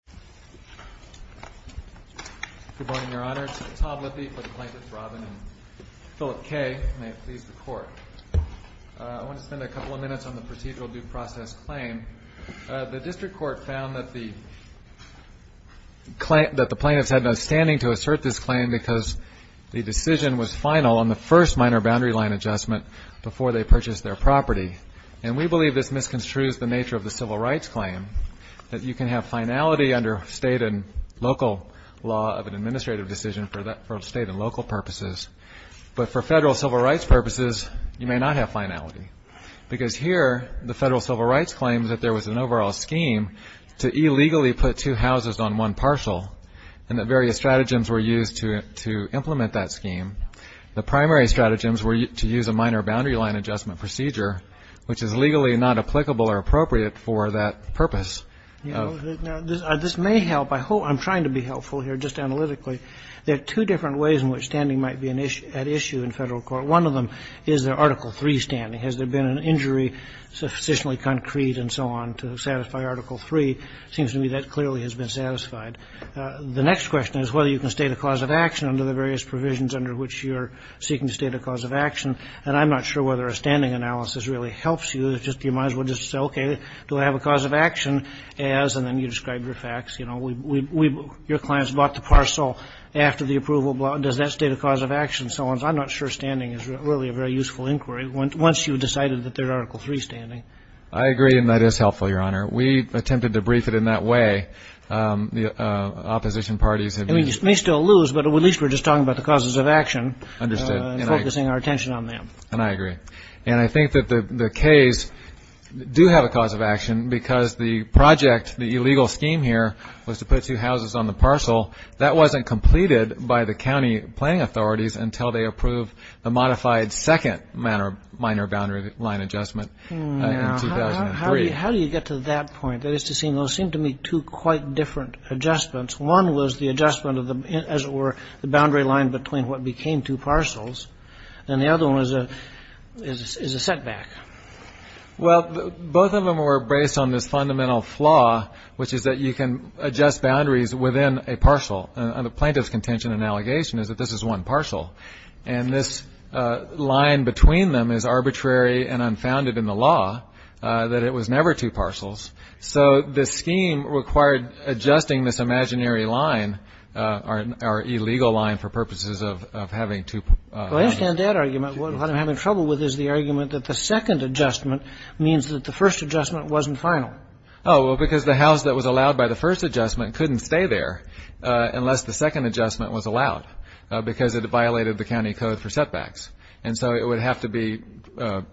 I want to spend a couple of minutes on the procedural due process claim. The District Court found that the plaintiffs had no standing to assert this claim because the decision was final on the first minor boundary line adjustment before they purchased their property. And we believe this misconstrues the nature of the civil rights claim, that you can have finality under State and local law of an administrative decision for State and local purposes. But for Federal civil rights purposes, you may not have finality. Because here, the Federal civil rights claims that there was an overall scheme to illegally put two houses on one partial and that various stratagems were used to implement that scheme. The primary stratagems were to use a minor boundary line adjustment procedure, which is legally not applicable or appropriate for that purpose. This may help. I'm trying to be helpful here, just analytically. There are two different ways in which standing might be at issue in Federal court. One of them is the Article 3 standing. Has there been an injury sufficiently concrete and so on to satisfy Article 3? It seems to me that clearly has been satisfied. The next question is whether you can state a cause of action under the various provisions under which you're seeking to state a cause of action. And I'm not sure whether a standing analysis really helps you. You might as well just say, okay, do I have a cause of action as, and then you describe your facts, you know, your clients bought the parcel after the approval. Does that state a cause of action so and so? I'm not sure standing is really a very useful inquiry once you've decided that they're Article 3 standing. I agree, and that is helpful, Your Honor. We attempted to brief it in that way. The opposition parties have used it. And we may still lose, but at least we're just talking about the causes of action. Understood. And focusing our attention on them. And I agree. And I think that the Ks do have a cause of action because the project, the illegal scheme here was to put two houses on the parcel. That wasn't completed by the county planning authorities until they approved the modified second minor boundary line adjustment in 2003. How do you get to that point? That is to say, those seem to me two quite different adjustments. One was the adjustment of the, as it were, the boundary line between what became two is a setback. Well, both of them were based on this fundamental flaw, which is that you can adjust boundaries within a parcel. And the plaintiff's contention and allegation is that this is one parcel. And this line between them is arbitrary and unfounded in the law, that it was never two parcels. So the scheme required adjusting this imaginary line, our illegal line, for purposes of having two parcels. Well, I understand that argument. What I'm having trouble with is the argument that the second adjustment means that the first adjustment wasn't final. Oh, well, because the house that was allowed by the first adjustment couldn't stay there unless the second adjustment was allowed because it violated the county code for setbacks. And so it would have to be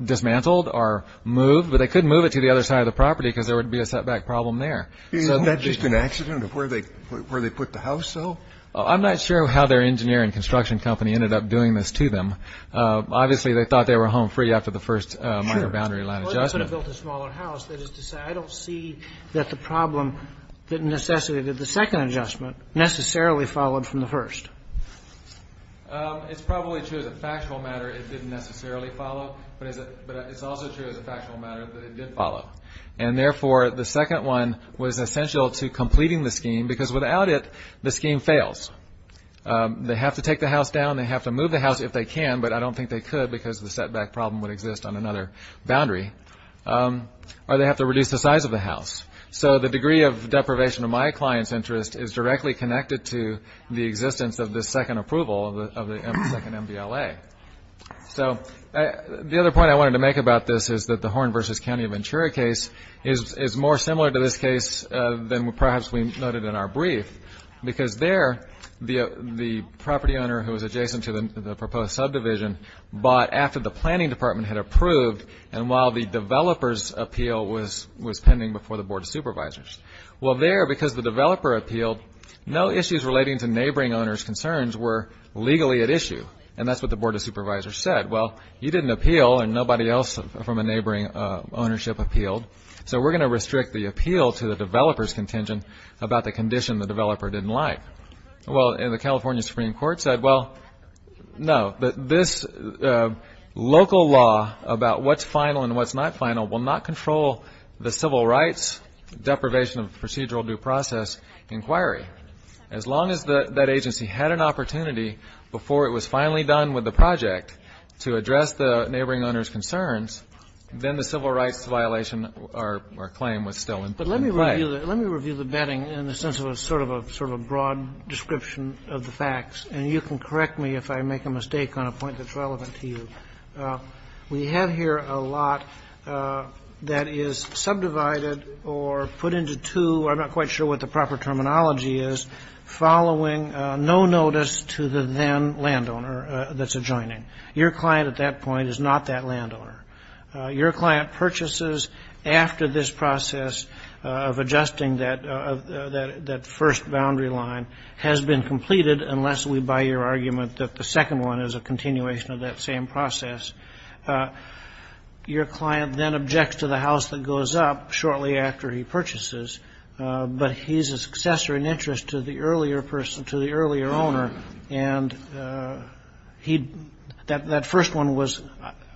dismantled or moved. But they couldn't move it to the other side of the property because there would be a setback problem there. Isn't that just an accident of where they put the house, though? I'm not sure how their engineering and construction company ended up doing this to them. Obviously, they thought they were home free after the first boundary line adjustment. Or they could have built a smaller house. That is to say, I don't see that the problem that necessitated the second adjustment necessarily followed from the first. It's probably true as a factual matter, it didn't necessarily follow. But it's also true as a factual matter that it did follow. And therefore, the second one was essential to completing the scheme, because without it, the scheme fails. They have to take the house down. They have to move the house if they can. But I don't think they could because the setback problem would exist on another boundary. Or they have to reduce the size of the house. So the degree of deprivation of my client's interest is directly connected to the existence of the second approval of the second MVLA. So the other point I wanted to make about this is that the Horn versus County of Ventura case is more similar to this case than perhaps we noted in our brief. Because there, the property owner who was adjacent to the proposed subdivision bought after the planning department had approved and while the developer's appeal was pending before the Board of Supervisors. Well, there, because the developer appealed, no issues relating to neighboring owners' concerns were legally at issue. And that's what the Board of Supervisors said. Well, you didn't appeal and nobody else from a neighboring ownership appealed. So we're going to restrict the appeal to the developer's contention about the condition the developer didn't like. Well, and the California Supreme Court said, well, no. But this local law about what's final and what's not final will not control the civil rights deprivation of procedural due process inquiry. As long as that agency had an opportunity before it was finally done with the project to address the neighboring owner's concerns, then the civil rights violation or claim was still in play. Let me review the betting in the sense of a sort of a broad description of the facts. And you can correct me if I make a mistake on a point that's relevant to you. We have here a lot that is subdivided or put into two, I'm not quite sure what the proper terminology is, following no notice to the then landowner that's adjoining. Your client at that point is not that landowner. Your client purchases after this process of adjusting that first boundary line has been completed, unless we buy your argument that the second one is a continuation of that same process. Your client then objects to the house that goes up shortly after he purchases. But he's a successor in interest to the earlier person, to the earlier owner. And he'd, that first one was,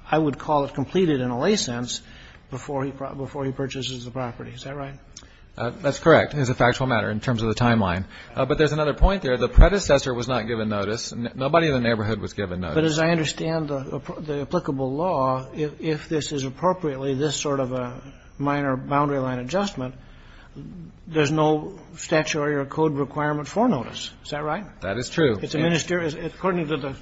I would call it completed in a lay sense before he purchases the property. Is that right? That's correct. It is a factual matter in terms of the timeline. But there's another point there. The predecessor was not given notice. Nobody in the neighborhood was given notice. But as I understand the applicable law, if this is appropriately this sort of a minor boundary line adjustment, there's no statutory or code requirement for notice. Is that right? That is true. It's a minister. According to the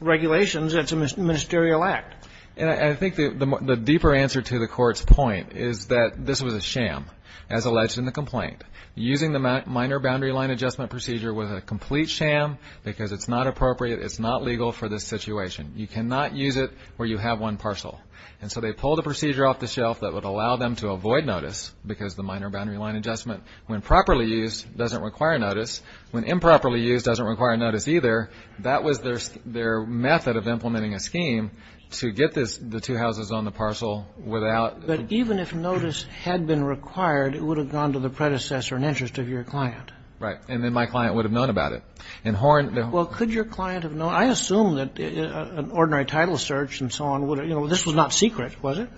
regulations, it's a ministerial act. And I think the deeper answer to the court's point is that this was a sham, as alleged in the complaint. Using the minor boundary line adjustment procedure was a complete sham because it's not appropriate. It's not legal for this situation. You cannot use it where you have one parcel. And so they pulled the procedure off the shelf that would allow them to avoid notice because the minor boundary line adjustment, when properly used, doesn't require notice. When improperly used, doesn't require notice either. That was their method of implementing a scheme to get the two houses on the parcel without. But even if notice had been required, it would have gone to the predecessor in interest of your client. Right. And then my client would have known about it. And Horn. Well, could your client have known? I assume that an ordinary title search and so on would have, you know, this was not secret, was it?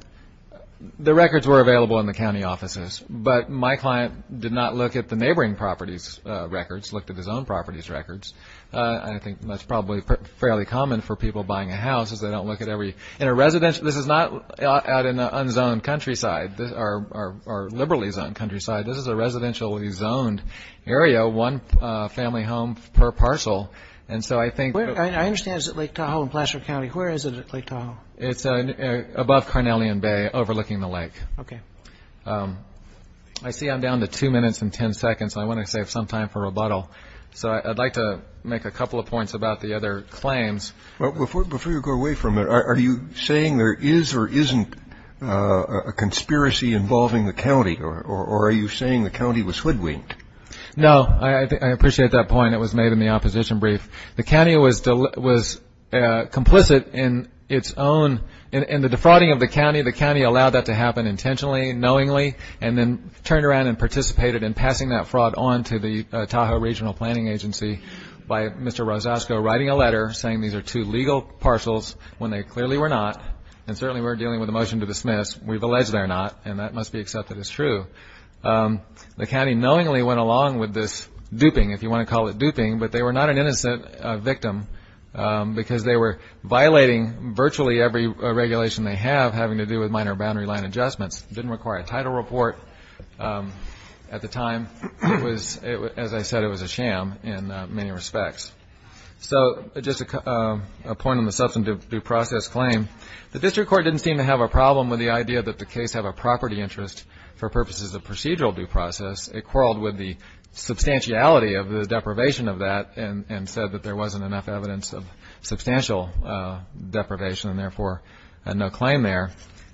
The records were available in the county offices, but my client did not look at the records, looked at his own property's records. I think that's probably fairly common for people buying a house is they don't look at every in a residential. This is not out in the unzoned countryside or liberally zoned countryside. This is a residentially zoned area, one family home per parcel. And so I think I understand Lake Tahoe in Placer County. Where is it? Lake Tahoe. It's above Carnelian Bay overlooking the lake. OK. I see I'm down to two minutes and 10 seconds. I want to save some time for rebuttal. So I'd like to make a couple of points about the other claims. Well, before you go away from it, are you saying there is or isn't a conspiracy involving the county or are you saying the county was hoodwinked? No, I appreciate that point. It was made in the opposition brief. The county was was complicit in its own in the defrauding of the county. The county allowed that to happen intentionally, knowingly, and then turned around and participated in passing that fraud on to the Tahoe Regional Planning Agency by Mr. Rosasco writing a letter saying these are two legal parcels when they clearly were not. And certainly we're dealing with a motion to dismiss. We've alleged they're not. And that must be accepted as true. The county knowingly went along with this duping, if you want to call it duping. But they were not an innocent victim because they were violating virtually every regulation they have having to do with minor boundary line adjustments. Didn't require a title report. At the time, it was, as I said, it was a sham in many respects. So just a point on the substantive due process claim. The district court didn't seem to have a problem with the idea that the case have a property interest for purposes of procedural due process. It quarreled with the substantiality of the deprivation of that and said that there wasn't enough evidence of substantial deprivation and therefore had no claim there.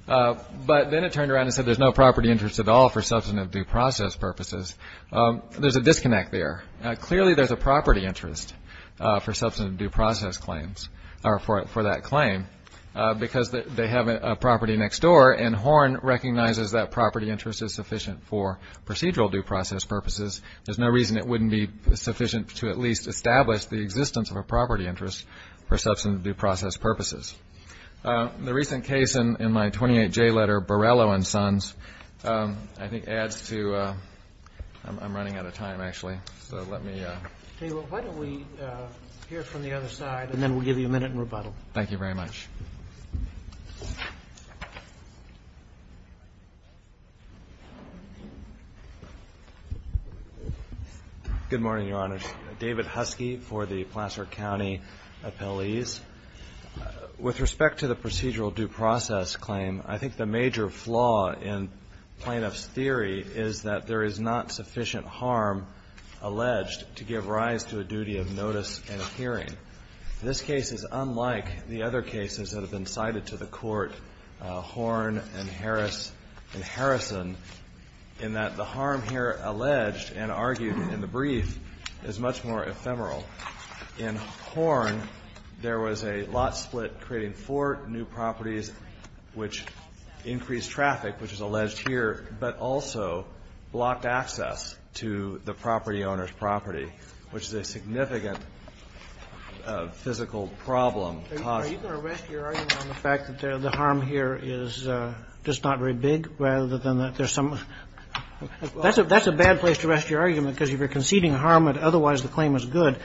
But then it turned around and said there's no property interest at all for substantive due process purposes. There's a disconnect there. Clearly there's a property interest for substantive due process claims or for it for that claim because they have a property next door and Horn recognizes that property interest is sufficient for procedural due process purposes. There's no reason it wouldn't be sufficient to at least establish the existence of a property interest for substantive due process purposes. The recent case in my 28J letter, Borrello and Sons, I think adds to, I'm running out of time actually. So let me. Why don't we hear from the other side and then we'll give you a minute and rebuttal. Thank you very much. Good morning, Your Honor. David Huskey for the Placer County Appellees. With respect to the procedural due process claim, I think the major flaw in plaintiff's theory is that there is not sufficient harm alleged to give rise to a duty of notice and hearing. This case is unlike the other cases that have been cited to the court, Horn and Harris and Harrison, in that the harm here alleged and argued in the brief is much more ephemeral. In Horn, there was a lot split creating four new properties, which increased traffic, which is alleged here, but also blocked access to the property owner's property, which is a significant physical problem. Are you going to rest your argument on the fact that the harm here is just not very big rather than that there's some of that's a that's a bad place to rest your argument because if you're conceding harm and otherwise the claim is good,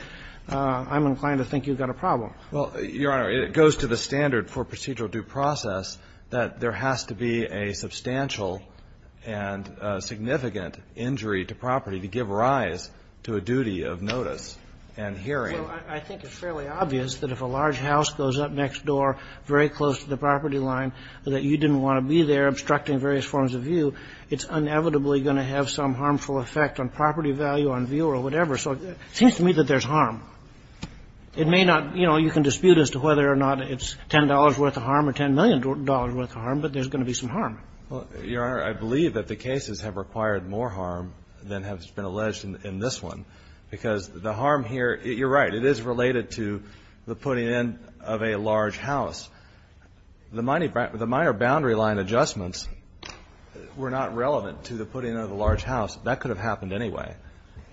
I'm inclined to think you've got a problem. Well, Your Honor, it goes to the standard for procedural due process that there has to be a substantial and significant injury to property to give rise to a duty of notice and hearing. I think it's fairly obvious that if a large house goes up next door, very close to the property line, that you didn't want to be there obstructing various forms of view. It's inevitably going to have some harmful effect on property value on view or whatever. So it seems to me that there's harm. It may not, you know, you can dispute as to whether or not it's $10 worth of harm or $10 million worth of harm, but there's going to be some harm. Well, Your Honor, I believe that the cases have required more harm than has been alleged in this one because the harm here, you're right, it is related to the putting in of a large house. The minor boundary line adjustments were not relevant to the putting of a large house. That could have happened anyway.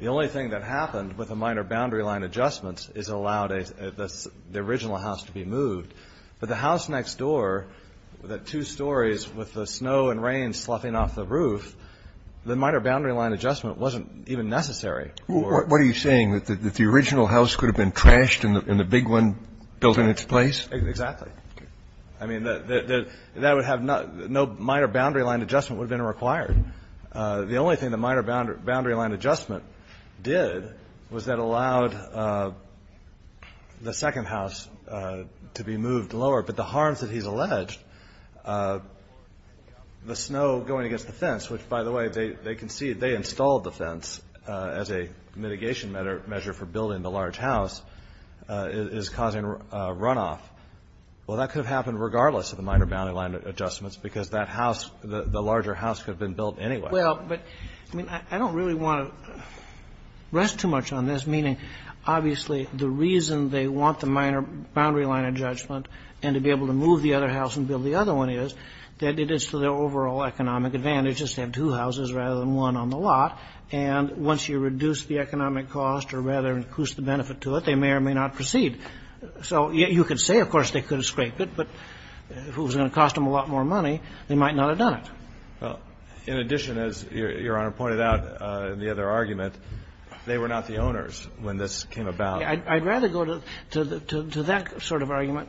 The only thing that happened with the minor boundary line adjustments is it allowed the original house to be moved, but the house next door, the two stories with the snow and rain sloughing off the roof, the minor boundary line adjustment wasn't even necessary. What are you saying? That the original house could have been trashed and the big one built in its place? Exactly. I mean, that would have no minor boundary line adjustment would have been required. The only thing the minor boundary line adjustment did was that allowed the second house to be moved lower. But the harms that he's alleged, the snow going against the fence, which, by the way, they concede they installed the fence as a mitigation measure for building the large house, is causing a runoff, well, that could have happened regardless of the minor boundary line adjustments because that house, the larger house could have been built anyway. Well, but I mean, I don't really want to rest too much on this, meaning obviously the reason they want the minor boundary line adjustment and to be able to move the other house and build the other one is that it is to their overall economic advantage just to have two houses rather than one on the lot. And once you reduce the economic cost or rather increase the benefit to it, they may or may not proceed. So you could say, of course, they could have scraped it, but if it was going to cost them a lot more money, they might not have done it. Well, in addition, as Your Honor pointed out in the other argument, they were not the owners when this came about. I'd rather go to that sort of argument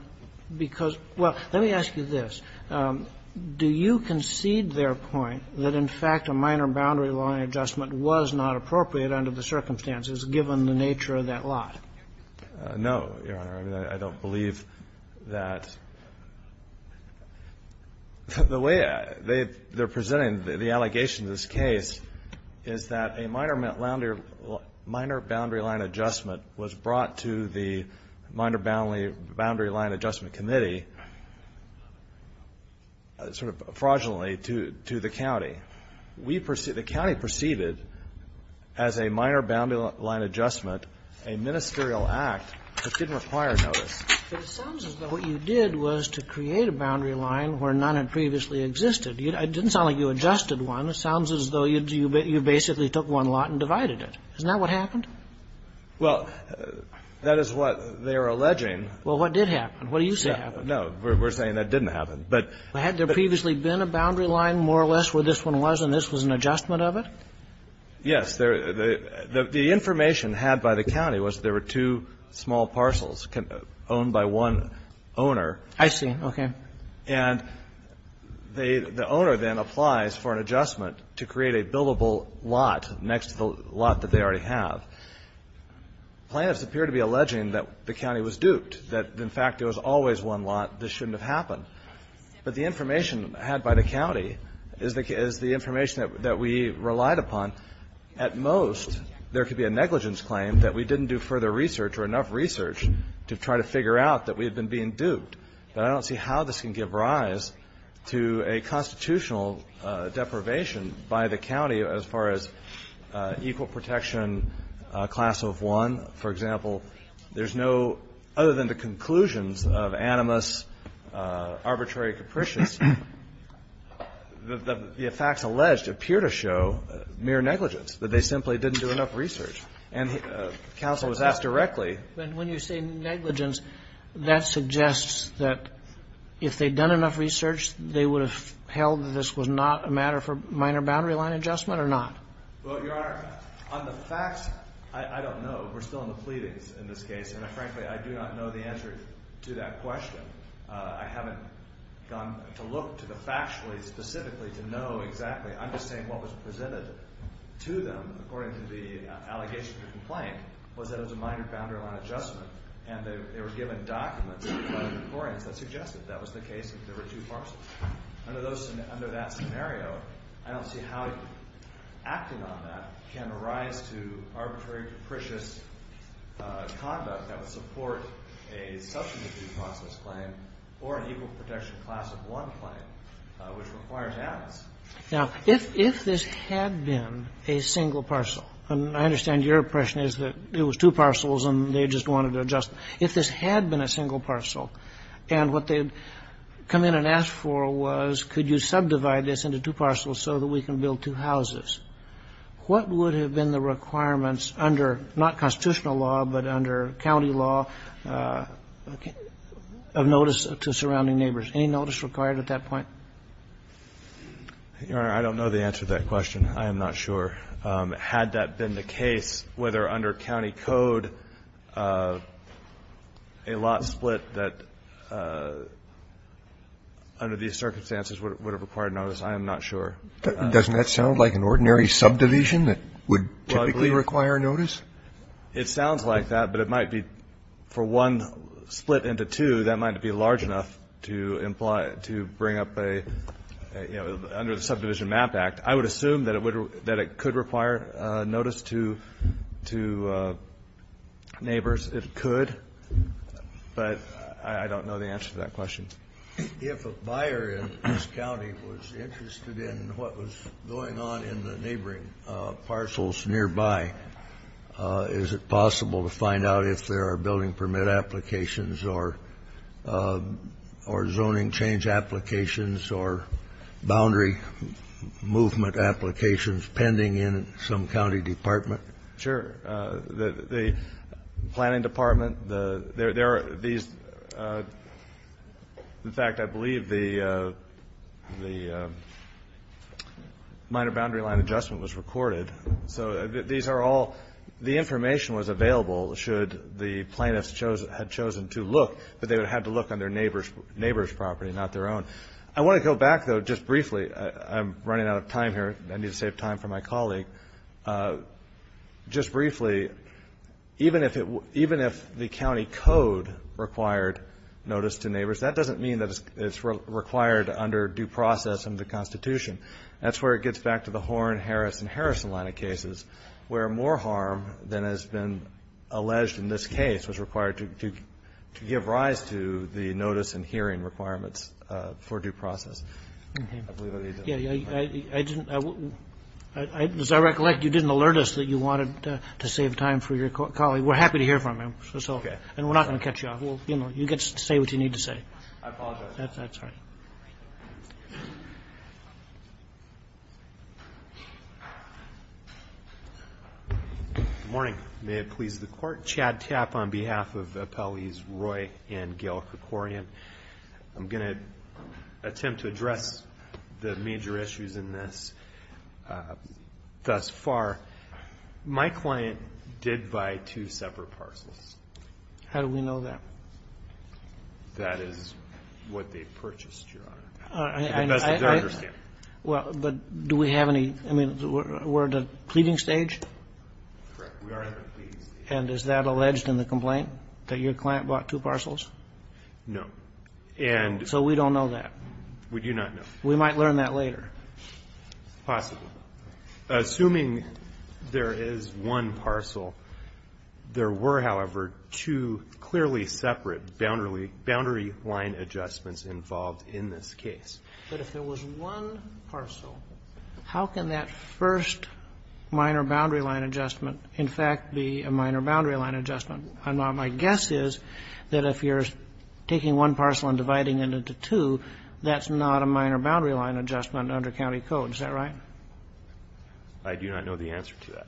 because, well, let me ask you this. Do you concede their point that in fact a minor boundary line adjustment was not appropriate under the circumstances given the nature of that lot? No, Your Honor. I don't believe that. The way they're presenting the allegation in this case is that a minor boundary line adjustment was brought to the Minor Boundary Line Adjustment Committee sort of fraudulently to the county. We perceive the county perceived it as a minor boundary line adjustment, a ministerial act that didn't require notice. But it sounds as though what you did was to create a boundary line where none had previously existed. It didn't sound like you adjusted one. It sounds as though you basically took one lot and divided it. Isn't that what happened? Well, that is what they are alleging. Well, what did happen? What do you say happened? No. We're saying that didn't happen. Had there previously been a boundary line, more or less, where this one was and this was an adjustment of it? Yes. The information had by the county was there were two small parcels owned by one owner. I see. Okay. And the owner then applies for an adjustment to create a billable lot next to the lot that they already have. Plaintiffs appear to be alleging that the county was duped, that in fact there was always one lot. This shouldn't have happened. But the information had by the county is the information that we relied upon. At most, there could be a negligence claim that we didn't do further research or enough research to try to figure out that we had been being duped. But I don't see how this can give rise to a constitutional deprivation by the county as far as equal protection class of one. For example, there's no, other than the conclusions of animus arbitrary capricious, the facts alleged appear to show mere negligence, that they simply didn't do enough research. And counsel was asked directly. But when you say negligence, that suggests that if they'd done enough research, they would have held that this was not a matter for minor boundary line adjustment or not? Well, Your Honor, on the facts, I don't know. We're still in the pleadings in this case. And frankly, I do not know the answer to that question. I haven't gone to look to the factually, specifically, to know exactly. I'm just saying what was presented to them according to the allegation of the complaint was that it was a minor boundary line adjustment. And they were given documents by the decorians that suggested that was the case if there were two parcels. Under those, under that scenario, I don't see how acting on that can arise to arbitrary capricious conduct that would support a substantive due process claim or an equal protection class of one claim, which requires animus. Now, if this had been a single parcel, and I understand your impression is that it was two parcels and they just wanted to adjust. If this had been a single parcel and what they had come in and asked for was could you subdivide this into two parcels so that we can build two houses, what would have been the requirements under, not constitutional law, but under county law of notice to surrounding neighbors? Any notice required at that point? Your Honor, I don't know the answer to that question. I am not sure. Had that been the case, whether under county code, a lot split that under these circumstances would have required notice, I am not sure. Doesn't that sound like an ordinary subdivision that would typically require notice? It sounds like that, but it might be for one split into two, that might be large enough to bring up a, you know, under the Subdivision Map Act. I would assume that it could require notice to neighbors, it could, but I don't know the answer to that question. If a buyer in this county was interested in what was going on in the neighboring parcels nearby, is it possible to find out if there are building permit applications, or zoning change applications, or boundary movement applications pending in some county department? Sure. The planning department, there are these, in fact, I believe the minor boundary line adjustment was recorded. So these are all, the information was available should the plaintiffs had chosen to look, but they would have to look on their neighbor's property, not their own. I want to go back though, just briefly, I'm running out of time here, I need to save time for my colleague, just briefly, even if the county code required notice to neighbors, that doesn't mean that it's required under due process under the Constitution. That's where it gets back to the Horne-Harris and Harrison line of cases, where more harm than has been alleged in this case was required to give rise to the notice and hearing requirements for due process. I believe I need to. Yeah, I didn't, as I recollect, you didn't alert us that you wanted to save time for your colleague. We're happy to hear from him, so, and we're not going to cut you off. We'll, you know, you get to say what you need to say. I apologize. That's all right. Good morning. May it please the Court. Chad Tapp on behalf of Appellees Roy and Gail Krikorian. I'm going to attempt to address the major issues in this. Thus far, my client did buy two separate parcels. How do we know that? That is what they purchased, Your Honor, to the best of their understanding. Well, but do we have any, I mean, we're at the pleading stage? Correct. We are at the pleading stage. And is that alleged in the complaint, that your client bought two parcels? No. And. So we don't know that. We do not know. We might learn that later. Possibly. Assuming there is one parcel, there were, however, two clearly separate boundary line adjustments involved in this case. But if there was one parcel, how can that first minor boundary line adjustment, in fact, be a minor boundary line adjustment? And my guess is that if you're taking one parcel and dividing it into two, that's not a minor boundary line adjustment under county code. Is that right? I do not know the answer to that.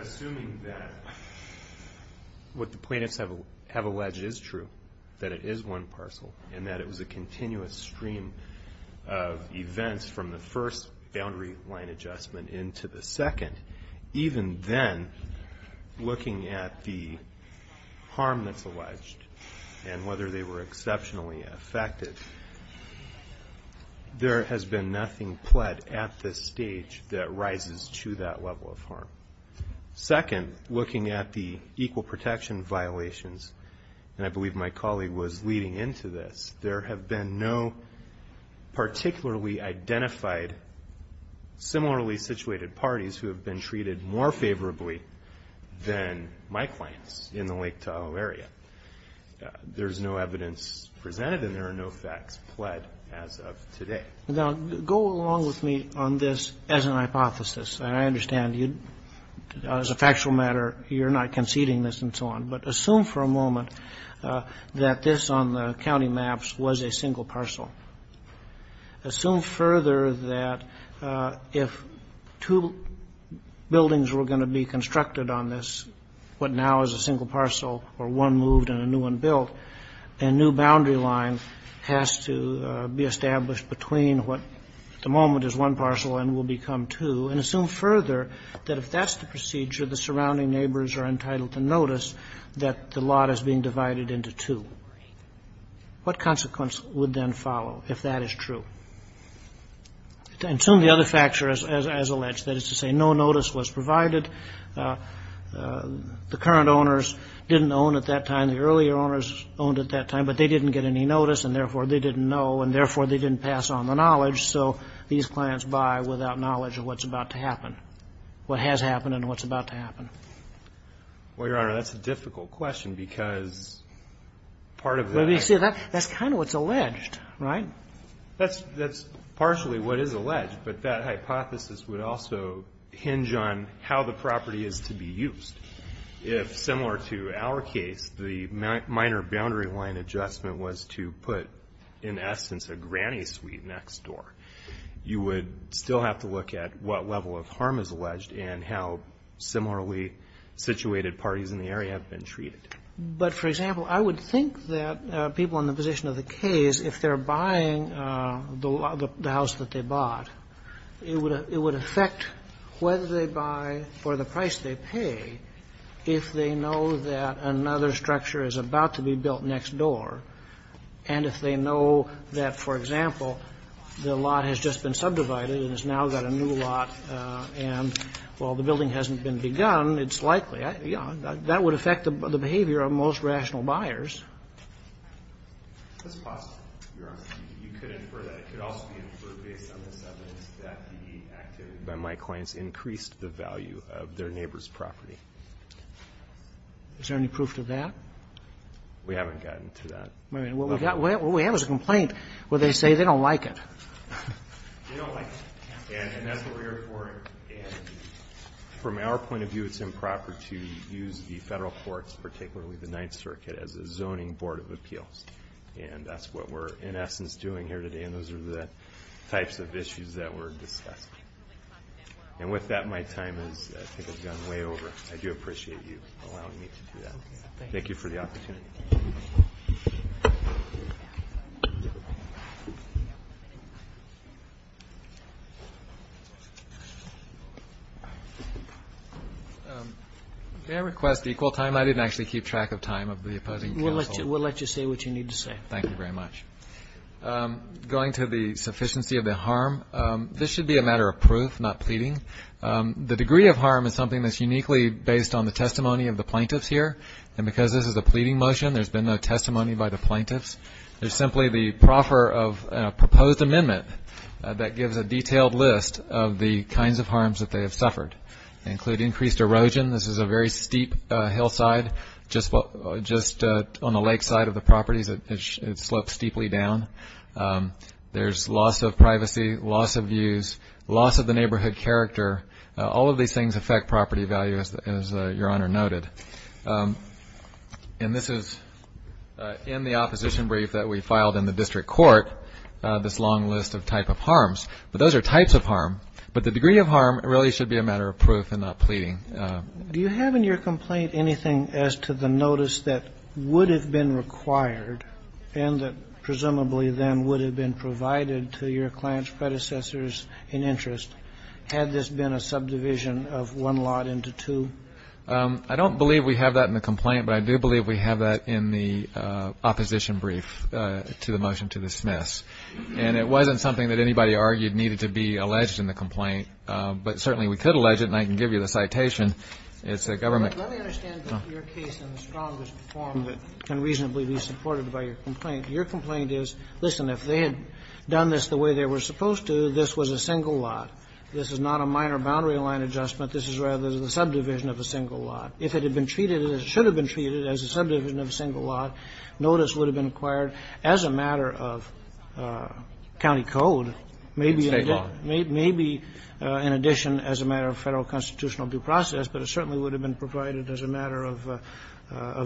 Assuming that what the plaintiffs have alleged is true, that it is one parcel, and that it was a continuous stream of events from the first boundary line adjustment into the second, even then, looking at the harm that's alleged and whether they were exceptionally affected, there has been nothing pled at this stage that rises to that level of harm. Second, looking at the equal protection violations, and I believe my colleague was leading into this, there have been no particularly identified similarly situated parties who have been treated more favorably than my clients in the Lake Tahoe area. There's no evidence presented and there are no facts pled as of today. Now, go along with me on this as an hypothesis, and I understand you, as a factual matter, you're not conceding this and so on, but assume for a moment that this on the county maps was a single parcel. Assume further that if two buildings were going to be constructed on this, what now is a single parcel, or one moved and a new one built, a new boundary line has to be established between what, at the moment, is one parcel and will become two, and assume further that if that's the procedure, the surrounding neighbors are entitled to notice that the lot is being divided into two. What consequence would then follow if that is true? To assume the other factors as alleged, that is to say no notice was provided, the current owners didn't own at that time, the earlier owners owned at that time, but they didn't get any notice, and therefore, they didn't know, and therefore, they didn't pass on the knowledge, so these clients buy without knowledge of what's about to happen, what has happened and what's about to happen. Well, Your Honor, that's a difficult question, because part of the... Well, you see, that's kind of what's alleged, right? That's partially what is alleged, but that hypothesis would also hinge on how the property is to be used. If, similar to our case, the minor boundary line adjustment was to put, in essence, a granny suite next door, you would still have to look at what level of harm is alleged and how similarly situated parties in the area have been treated. But, for example, I would think that people in the position of the case, if they're buying the house that they bought, it would affect whether they buy for the price they pay if they know that another structure is about to be built next door, and if they know that, for example, the lot has just been subdivided and has now got a new lot, and, well, the building hasn't been begun, it's likely, you know, that would affect the behavior of most rational buyers. That's possible, Your Honor. You could infer that. It could also be inferred based on the evidence that the activity by my clients increased the value of their neighbor's property. Is there any proof to that? We haven't gotten to that. What we have is a complaint where they say they don't like it. They don't like it, and that's what we're here for, and from our point of view, it's improper to use the federal courts, particularly the Ninth Circuit, as a zoning board of appeals, and that's what we're, in essence, doing here today, and those are the types of issues that were discussed. And with that, my time has, I think, has gone way over. I do appreciate you allowing me to do that. Thank you for the opportunity. May I request equal time? I didn't actually keep track of time of the opposing counsel. We'll let you say what you need to say. Thank you very much. Going to the sufficiency of the harm, this should be a matter of proof, not pleading. The degree of harm is something that's uniquely based on the testimony of the plaintiffs here, and because this is a pleading motion, there's been no testimony by the plaintiffs. There's simply the proffer of a proposed amendment that gives a detailed list of the kinds of harms that they have suffered. They include increased erosion. This is a very steep hillside just on the lakeside of the properties. It slopes steeply down. There's loss of privacy, loss of views, loss of the neighborhood character. All of these things affect property value, as Your Honor noted. And this is in the opposition brief that we filed in the district court, this long list of type of harms. But those are types of harm. But the degree of harm really should be a matter of proof and not pleading. Do you have in your complaint anything as to the notice that would have been required and that presumably then would have been provided to your client's predecessors in interest had this been a subdivision of one lot into two? I don't believe we have that in the complaint, but I do believe we have that in the opposition brief to the motion to dismiss. And it wasn't something that anybody argued needed to be alleged in the complaint, but certainly we could allege it, and I can give you the citation. It's a government... Let me understand your case in the strongest form that can reasonably be supported by your complaint. Your complaint is, listen, if they had done this the way they were supposed to, this was a single lot. This is not a minor boundary line adjustment. This is rather the subdivision of a single lot. If it had been treated as it should have been treated as a subdivision of a single lot, notice would have been acquired as a matter of county code, maybe in addition as a matter of Federal constitutional due process, but it certainly would have been provided as a matter of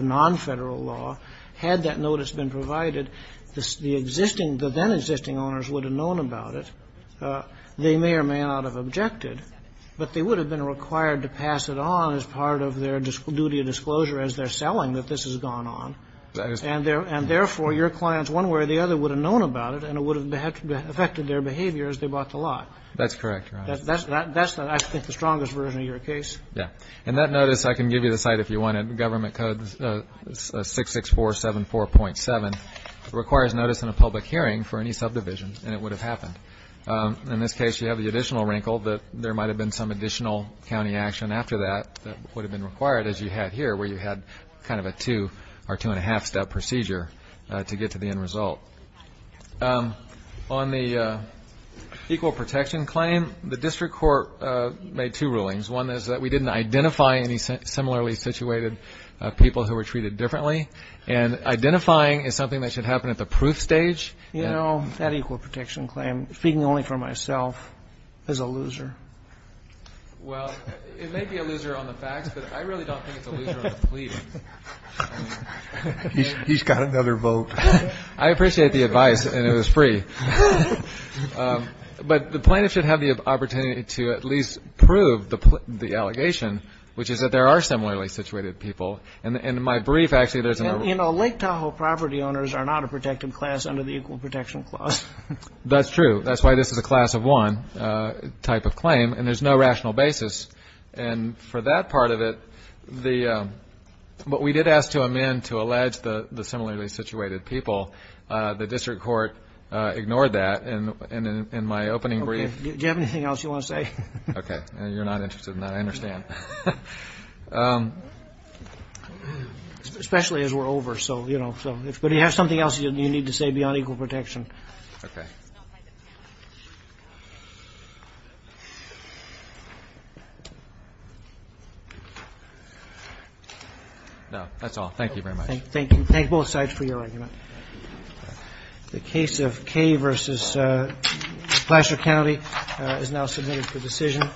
non-Federal law. Had that notice been provided, the existing, the then-existing owners would have known about it. They may or may not have objected, but they would have been required to pass it on as part of their duty of disclosure as they're selling that this has gone on. And therefore, your clients one way or the other would have known about it and it would have affected their behavior as they bought the lot. That's correct, Your Honor. That's, I think, the strongest version of your case. Yeah. And that notice, I can give you the site if you want it, Government Code 66474.7, requires notice in a public hearing for any subdivision and it would have happened. In this case, you have the additional wrinkle that there might have been some additional county action after that that would have been required as you had here where you had kind of a two or two-and-a-half step procedure to get to the end result. On the equal protection claim, the district court made two rulings. One is that we didn't identify any similarly situated people who were treated differently. And identifying is something that should happen at the proof stage. You know, that equal protection claim, speaking only for myself, is a loser. Well, it may be a loser on the facts, but I really don't think it's a loser on the pleadings. He's got another vote. I appreciate the advice, and it was free. But the plaintiff should have the opportunity to at least prove the allegation, which is that there are similarly situated people. And in my brief, actually, there's a number. You know, Lake Tahoe property owners are not a protected class under the equal protection clause. That's true. That's why this is a class of one type of claim. And there's no rational basis. And for that part of it, what we did ask to amend to allege the similarly situated people, the district court ignored that. And in my opening brief. Do you have anything else you want to say? Okay. You're not interested in that. I understand. Especially as we're over. But if you have something else you need to say beyond equal protection. Okay. No, that's all. Thank you very much. Thank you. Thank both sides for your argument. The case of Kaye v. Blasher County is now submitted for decision.